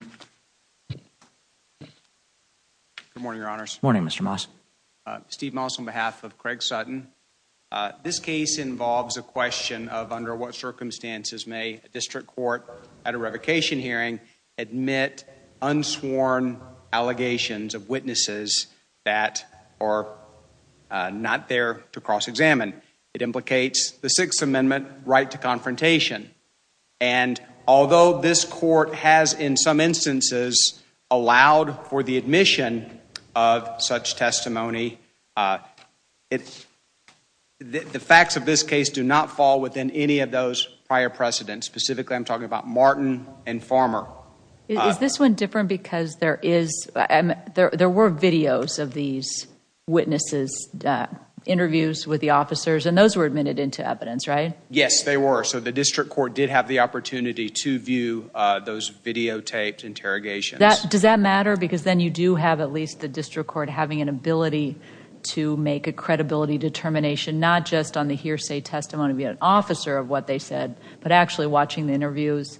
Good morning, Your Honors. Morning, Mr. Moss. Steve Moss on behalf of Craig Sutton. This case involves a question of under what circumstances may a district court at a revocation hearing admit unsworn allegations of witnesses that are not there to cross-examine. It implicates the Sixth Amendment right to confrontation. And although this court has, in some instances, allowed for the admission of such testimony, the facts of this case do not fall within any of those prior precedents. Specifically, I'm talking about Martin and Farmer. Ms. Warren Is this one different because there were videos of these witnesses, interviews with the officers, and those were admitted into evidence, right? Mr. Moss Yes, they were. So the district court did have the opportunity to view those videotaped interrogations. Ms. Warren Does that matter? Because then you do have at least the district court having an ability to make a credibility determination, not just on the hearsay testimony of an officer of what they said, but actually watching the interviews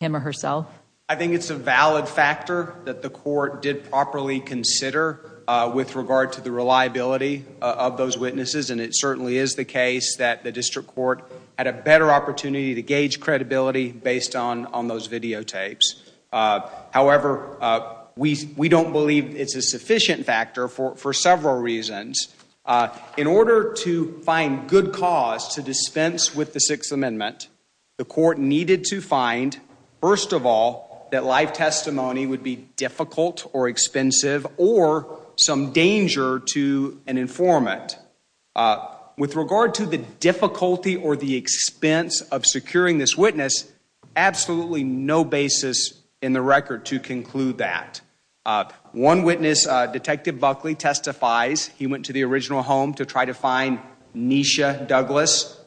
him or herself? Mr. Moss I think it's a valid factor that the court did properly consider with regard to the reliability of those witnesses, and it certainly is the case that the district court had a better opportunity to gauge credibility based on those videotapes. However, we don't believe it's a sufficient factor for several reasons. In order to find good cause to dispense with the Sixth Amendment, the court needed to find, first of all, that live testimony would be difficult or expensive or some danger to an informant. With regard to the difficulty or the expense of securing this witness, absolutely no basis in the record to conclude that. One witness, Detective Buckley, testifies he went to the original home to try to find Nisha Douglas.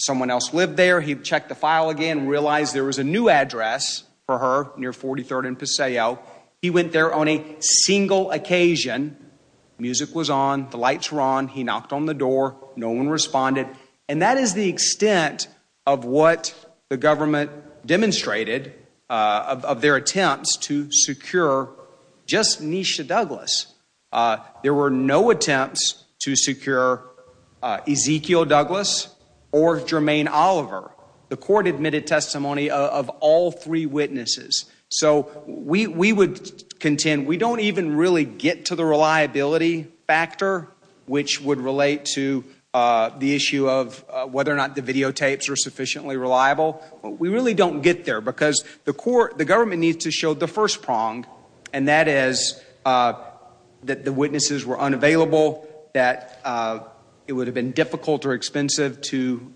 Someone else lived there. He checked the file again and realized there was a new address for her near 43rd and Paseo. He went there on a single occasion. Music was on. The lights were on. He knocked on the door. No one responded. And that is the extent of what the government demonstrated of their attempts to secure just Nisha Douglas. There were no attempts to secure Ezekiel Douglas or Jermaine Oliver. The court admitted testimony of all three witnesses. So we would contend we don't even really get to the reliability factor, which would relate to the issue of whether or not the videotapes are sufficiently reliable. We really don't get there because the court, the government needs to show the first prong, and that is that the witnesses were unavailable, that it would have been difficult or expensive to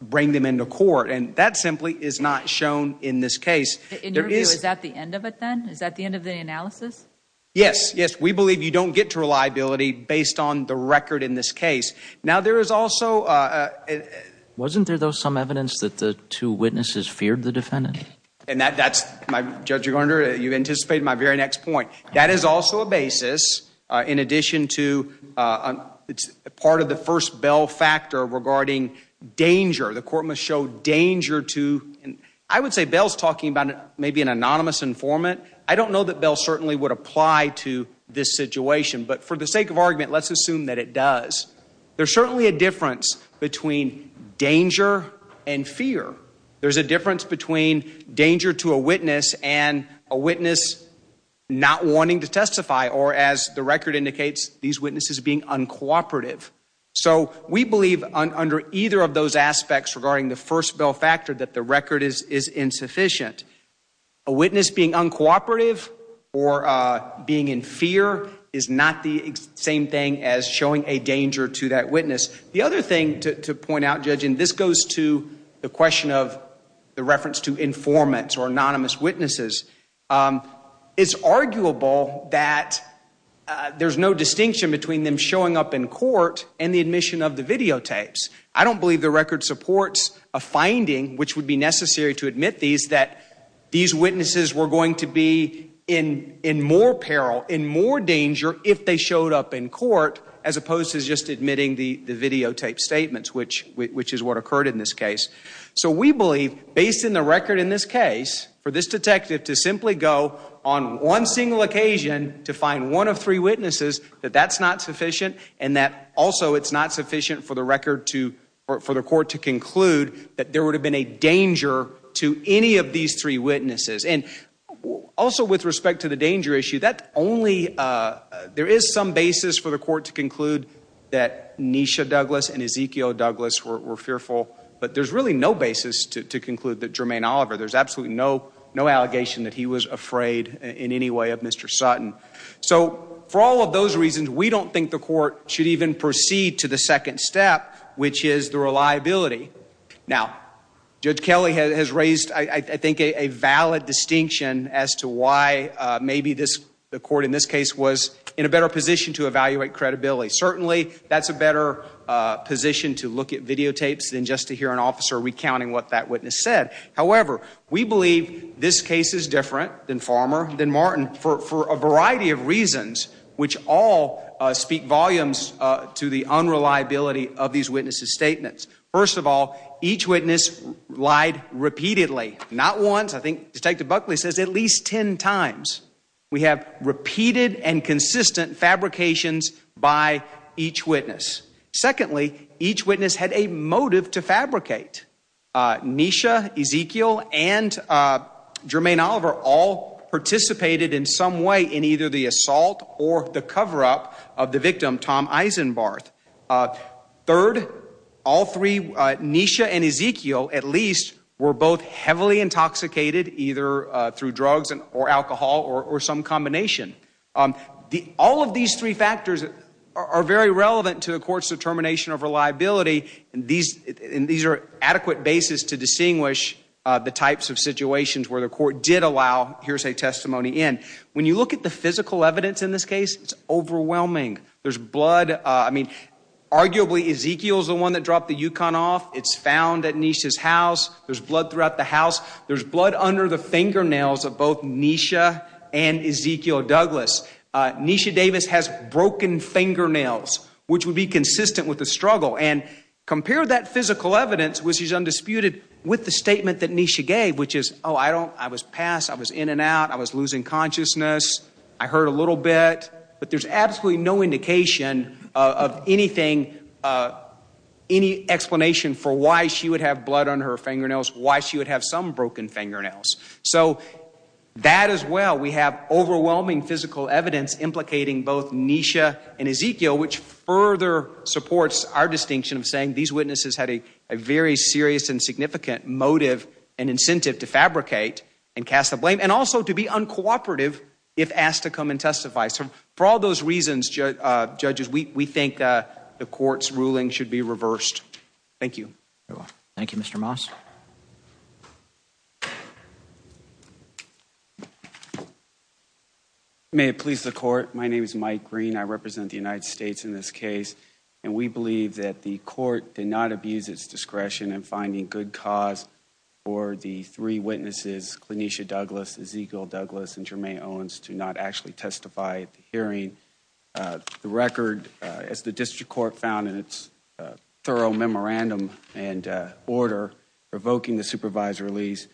bring them into court. And that simply is not shown in this case. In your view, is that the end of it then? Is that the end of the analysis? Yes. Yes. We believe you don't get to reliability based on the record in this case. Now, there is also a... Wasn't there though some evidence that the two witnesses feared the defendant? And that's, Judge Gardner, you anticipated my very next point. That is also a basis in addition to part of the first Bell factor regarding danger. The court must show danger to... I would say Bell's talking about maybe an anonymous informant. I don't know that Bell certainly would apply to this situation, but for the sake of argument, let's assume that it does. There's certainly a difference between danger and fear. There's a difference between danger to a witness and a witness not wanting to testify, or as the record indicates, these witnesses being uncooperative. So we believe under either of those aspects regarding the first Bell factor that the record is insufficient. A witness being uncooperative or being in fear is not the same thing as showing a danger to that witness. The other thing to point out, Judge, and this goes to the question of the reference to informants or anonymous witnesses. It's arguable that there's no distinction between them showing up in court and the admission of the videotapes. I don't believe the record supports a finding which would be necessary to admit these, that these witnesses were going to be in more peril, in more danger if they showed up in court, as opposed to just admitting the videotaped statements, which is what occurred in this case. So we believe, based on the record in this case, for this detective to simply go on one single occasion to find one of three witnesses, that that's not sufficient, and that also it's not sufficient for the record to, for the court to conclude that there would have been a danger to any of these three witnesses. And also with respect to the danger issue, that only, there is some basis for the court to conclude that Nisha Douglas and Ezekiel Douglas were fearful, but there's really no basis to conclude that Jermaine Oliver, there's absolutely no, no allegation that he was afraid in any way of Mr. Sutton. So for all of those reasons, we don't think the court should even proceed to the second step, which is the reliability. Now, Judge Kelly has raised, I think, a valid distinction as to why maybe this, the court in this case, was in a better position to evaluate credibility. Certainly that's a better position to look at videotapes than just to hear an officer recounting what that witness said. However, we believe this case is different than Farmer, than Martin, for a variety of reasons, which all speak volumes to the unreliability of these witnesses' statements. First of all, each witness lied repeatedly, not once. I think Buckley says at least 10 times. We have repeated and consistent fabrications by each witness. Secondly, each witness had a motive to fabricate. Nisha, Ezekiel, and Jermaine Oliver all participated in some way in either the assault or the cover-up of the victim, Tom Eisenbarth. Third, all three, Nisha and Ezekiel, at least, were both heavily intoxicated, either through drugs or alcohol or some combination. All of these three factors are very relevant to a court's determination of reliability, and these are adequate basis to distinguish the types of situations where the court did allow hearsay testimony in. When you look at the physical evidence in this case, it's overwhelming. There's blood, I mean, arguably Ezekiel's the one that dropped the Yukon off. It's found at Nisha's house. There's blood throughout the house. There's blood under the fingernails of both Nisha and Ezekiel Douglas. Nisha Davis has broken fingernails, which would be consistent with the struggle, and compare that physical evidence, which is undisputed, with the statement that Nisha gave, which is, oh, I was passed, I was in and out, I was losing consciousness, I hurt a little bit, but there's absolutely no indication of anything, any explanation for why she would have blood on her fingernails, why she would have some broken fingernails. So that as well, we have overwhelming physical evidence implicating both Nisha and Ezekiel, which further supports our distinction of saying these witnesses had a very serious and significant motive and incentive to fabricate and cast the blame, and also to be uncooperative if asked to come and testify. So for all those reasons, judges, we think the court's ruling should be reversed. Thank you. Thank you, Mr. Moss. May it please the court, my name is Mike Green, I represent the United States in this case, and we believe that the court did not abuse its discretion in finding good cause for the three witnesses, Clinicia Douglas, Ezekiel Douglas, and Jermaine Owens, to not actually and order, provoking the supervisor release,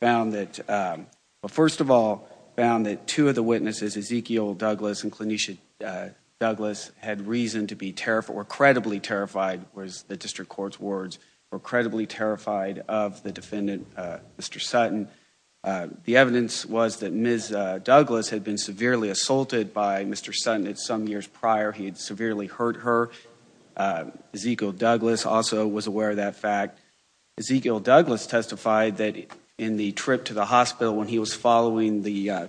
found that, well first of all, found that two of the witnesses, Ezekiel Douglas and Clinicia Douglas, had reason to be terrified, were credibly terrified, was the district court's words, were credibly terrified of the defendant, Mr. Sutton. The evidence was that Ms. Douglas had been severely assaulted by Mr. Sutton some years prior, he had severely hurt her. Ezekiel Douglas also was aware of that fact. Ezekiel Douglas testified that in the trip to the hospital when he was following the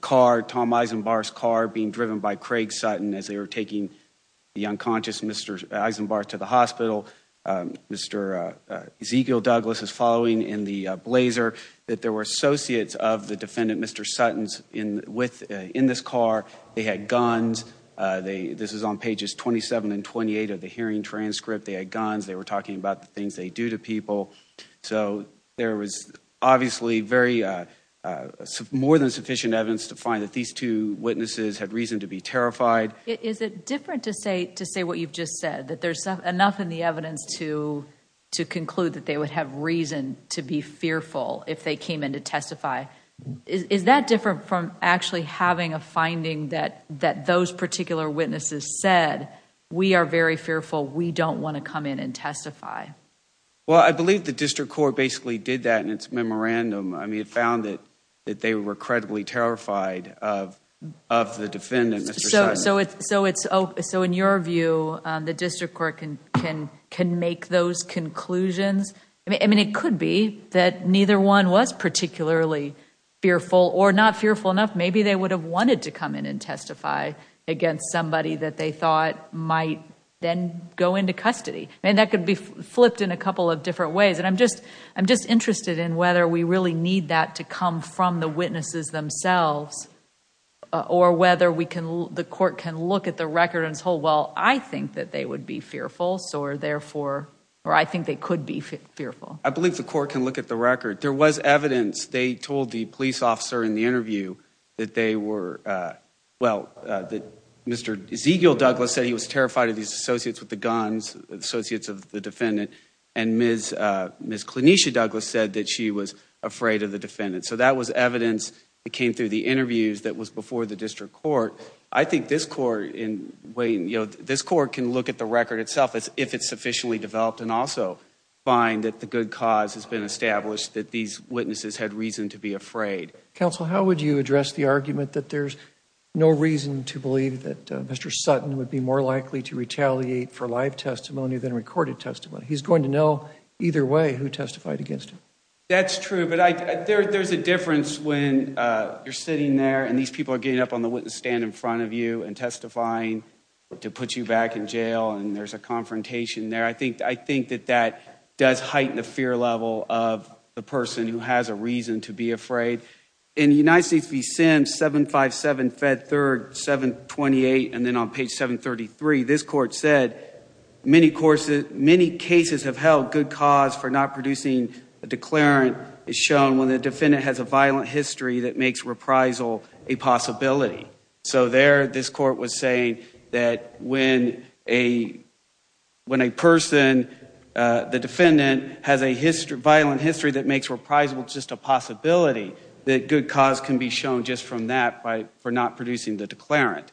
car, Tom Eisenbarth's car, being driven by Craig Sutton as they were taking the unconscious Mr. Eisenbarth to the hospital, Mr. Ezekiel Douglas was following in the blazer, that there were associates of the defendant, Mr. Sutton, in this car, they had guns, this is on pages 27 and 28 of the hearing transcript, they had guns, they were talking about the things they do to people, so there was obviously more than sufficient evidence to find that these two witnesses had reason to be terrified. Is it different to say what you've just said, that there's enough in the evidence to conclude that they would have reason to be fearful if they came in to testify? Is that different from actually having a finding that those particular witnesses said, we are very fearful, we don't want to come in and testify? Well, I believe the district court basically did that in its memorandum. It found that they were credibly terrified of the defendant, Mr. Sutton. So in your view, the district court can make those conclusions? It could be that neither one was particularly fearful or not fearful enough, maybe they would have wanted to come in and testify against somebody that they thought might then go into custody. That could be flipped in a couple of different ways. I'm just interested in whether we really need that to come from the witnesses themselves, or whether the court can look at the record and say, well, I think that they would be fearful, or I think they could be fearful. I believe the court can look at the record. There was evidence. They told the police officer in the interview that they were, well, that Mr. Ezekiel Douglas said he was terrified of his associates with the guns, associates of the defendant, and Ms. Clinicia Douglas said that she was afraid of the defendant. So that was evidence that came through the interviews that was before the district court. I think this court can look at the record itself, if it's sufficiently developed, and also find that the good cause has been established, that these witnesses had reason to be afraid. Counsel, how would you address the argument that there's no reason to believe that Mr. Sutton would be more likely to retaliate for live testimony than recorded testimony? He's going to know either way who testified against him. That's true, but there's a difference when you're sitting there and these people are getting up on the witness stand in front of you and testifying to put you back in jail, and there's a confrontation there. I think that that does heighten the fear level of the person who has a reason to be afraid. In the United States v. Sims, 757-Fed-3rd-728, and then on page 733, this court said, many cases have held good cause for not producing a declarant is shown when the defendant has a violent history that makes reprisal a possibility. So there, this court was saying that when a person, the defendant, has a violent history that makes reprisal just a possibility, that good cause can be shown just from that for not producing the declarant.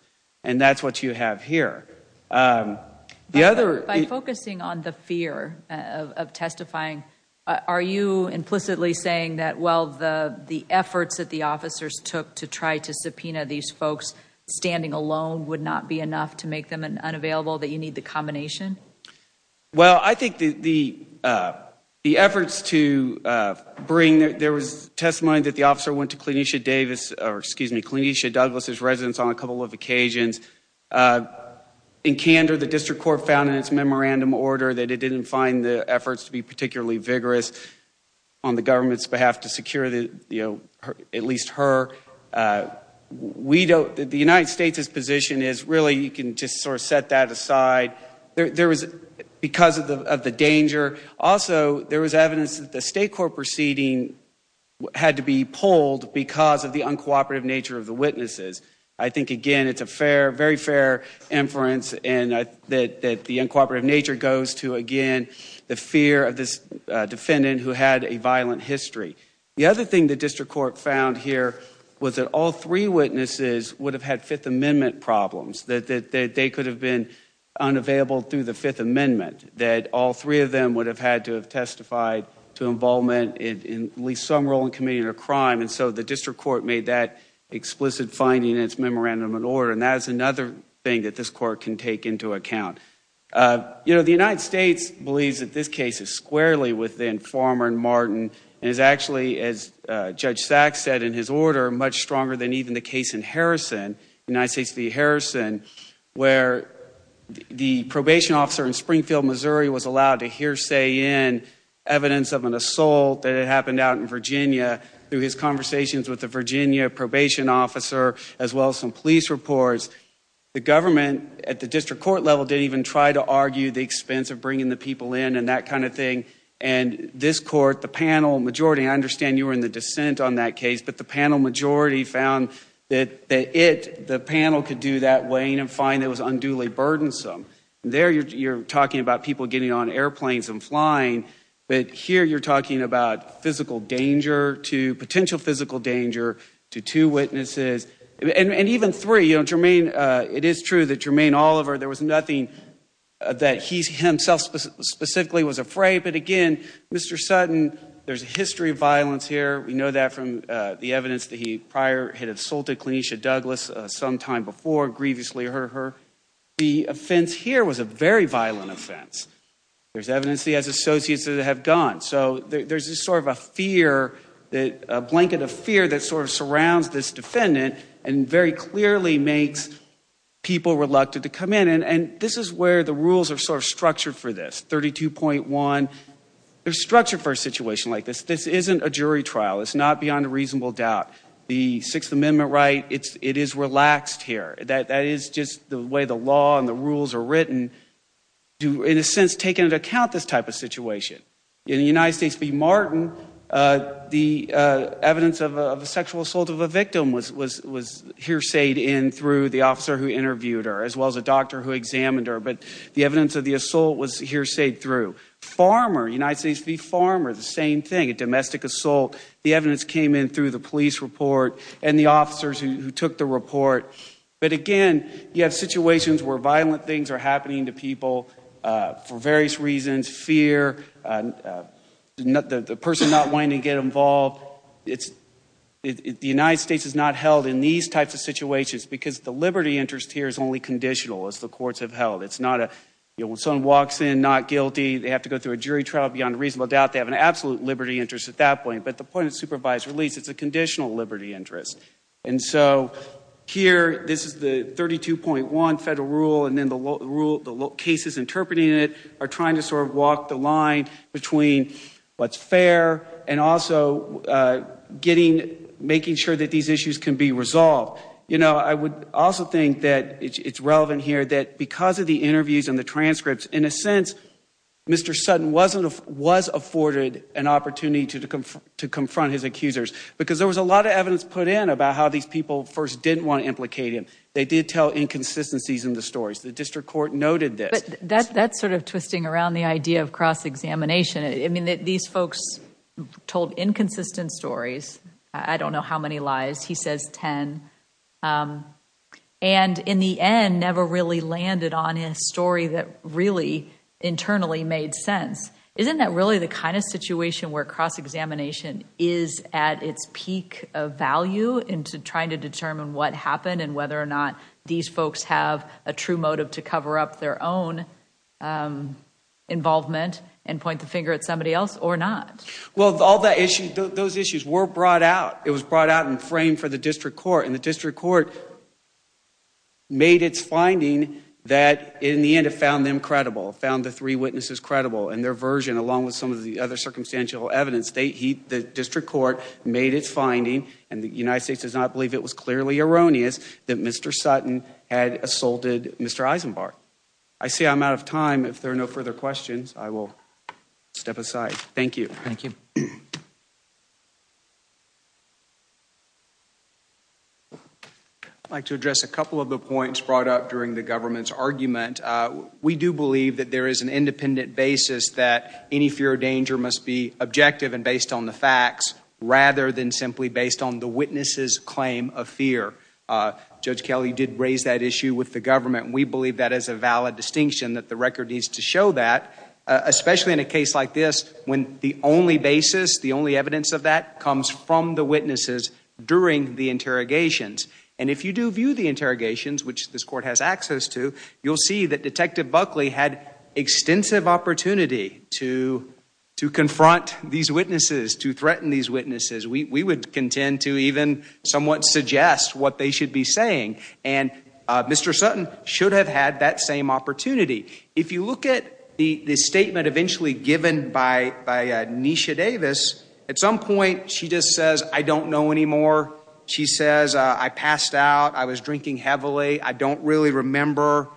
And that's what you have here. By focusing on the fear of testifying, are you implicitly saying that, well, the efforts that the officers took to try to subpoena these folks standing alone would not be enough to make them unavailable, that you need the combination? Well, I think the efforts to bring, there was testimony that the officer went to Clinicia Douglas' residence on a couple of occasions. In candor, the district court found in its memorandum order that it didn't find the efforts to be particularly vigorous on the government's behalf to secure, you know, at least her. We don't, the United States' position is really you can just sort of set that aside. There was, because of the danger, also there was evidence that the state court proceeding had to be pulled because of the uncooperative nature of the witnesses. I think, again, it's a fair, very fair inference and that the uncooperative nature goes to, again, the fear of this defendant who had a violent history. The other thing the district court found here was that all three witnesses would have had Fifth Amendment problems, that they could have been unavailable through the Fifth Amendment, that all three of them would have had to have testified to involvement in at least some role in committing a crime, and so the district court made that explicit finding in its memorandum and order, and that is another thing that this court can take into account. You know, the United States believes that this case is squarely within Farmer and Martin and is actually, as Judge Sachs said in his order, much stronger than even the case in Missouri was allowed to hearsay in evidence of an assault that had happened out in Virginia through his conversations with the Virginia probation officer as well as some police reports. The government at the district court level didn't even try to argue the expense of bringing the people in and that kind of thing, and this court, the panel majority, I understand you were in the dissent on that case, but the panel majority found that it, the panel could do that weighing and find that it was unduly burdensome. There you're talking about people getting on airplanes and flying, but here you're talking about physical danger to, potential physical danger to two witnesses, and even three. It is true that Jermaine Oliver, there was nothing that he himself specifically was afraid, but again, Mr. Sutton, there's a history of violence here, we know that from the evidence that he prior had assaulted Clinicia Douglas sometime before, grievously hurt her. The offense here was a very violent offense. There's evidence he has associates that have gone, so there's this sort of a fear, a blanket of fear that sort of surrounds this defendant and very clearly makes people reluctant to come in, and this is where the rules are sort of structured for this, 32.1, they're structured for a situation like this. This isn't a jury trial, it's not beyond a reasonable doubt. The Sixth Amendment right, it is relaxed here. That is just the way the law and the rules are written, in a sense taking into account this type of situation. In the United States v. Martin, the evidence of a sexual assault of a victim was hearsayed in through the officer who interviewed her, as well as a doctor who examined her, but the evidence of the assault was hearsayed through. Farmer, United States v. Farmer, the same thing, a domestic assault, the evidence came in through the police report and the officers who took the report, but again, you have situations where violent things are happening to people for various reasons, fear, the person not wanting to get involved. The United States is not held in these types of situations because the liberty interest here is only conditional as the courts have held. It's not a, when someone walks in not guilty, they have to go through a jury trial beyond reasonable doubt, they have an absolute liberty interest at that point, but at the point of supervised release, it's a conditional liberty interest. And so here, this is the 32.1 federal rule, and then the cases interpreting it are trying to sort of walk the line between what's fair and also making sure that these issues can be resolved. You know, I would also think that it's relevant here that because of the interviews and the transcripts, in a sense, Mr. Sutton was afforded an opportunity to confront his accusers, because there was a lot of evidence put in about how these people first didn't want to implicate him. They did tell inconsistencies in the stories. The district court noted this. That's sort of twisting around the idea of cross-examination. I mean, these folks told inconsistent stories. I don't know how many lies. He says 10. And in the end, never really landed on a story that really internally made sense. Isn't that really the kind of situation where cross-examination is at its peak of value in trying to determine what happened and whether or not these folks have a true motive to cover up their own involvement and point the finger at somebody else or not? Well, all those issues were brought out. It was brought out and framed for the district court, and the district court made its finding that in the end it found them credible, found the three witnesses credible in their version along with some of the other circumstantial evidence. The district court made its finding, and the United States does not believe it was clearly erroneous that Mr. Sutton had assaulted Mr. Eisenbarth. I see I'm out of time. If there are no further questions, I will step aside. Thank you. Thank you. I'd like to address a couple of the points brought up during the government's argument. We do believe that there is an independent basis that any fear or danger must be objective and based on the facts, rather than simply based on the witness's claim of fear. Judge Kelly did raise that issue with the government, and we believe that is a valid distinction that the record needs to show that, especially in a case like this when the only basis, the only evidence of that comes from the witnesses during the interrogations. And if you do view the interrogations, which this court has access to, you'll see that Detective Buckley had extensive opportunity to confront these witnesses, to threaten these witnesses. We would contend to even somewhat suggest what they should be saying, and Mr. Sutton should have had that same opportunity. If you look at the statement eventually given by Nisha Davis, at some point she just says, I don't know anymore. She says, I passed out, I was drinking heavily, I don't really remember.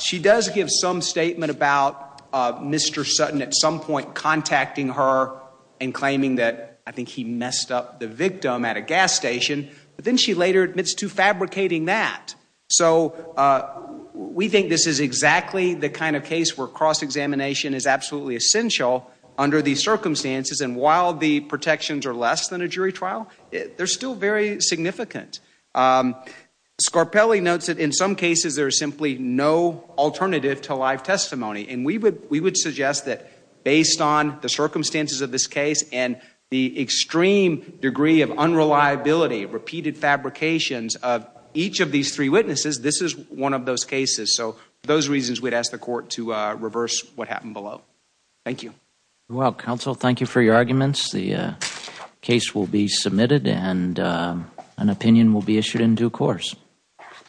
She does give some statement about Mr. Sutton at some point contacting her and claiming that I think he messed up the victim at a gas station, but then she later admits to fabricating that. So we think this is exactly the kind of case where cross-examination is absolutely essential under these circumstances, and while the protections are less than a jury trial, they're still very significant. Scarpelli notes that in some cases there is simply no alternative to live testimony, and we would suggest that based on the circumstances of this case and the extreme degree of unreliability, repeated fabrications of each of these three witnesses, this is one of those cases. So for those reasons, we'd ask the court to reverse what happened below. Thank you. Well, counsel, thank you for your arguments. The case will be submitted and an opinion will be issued in due course.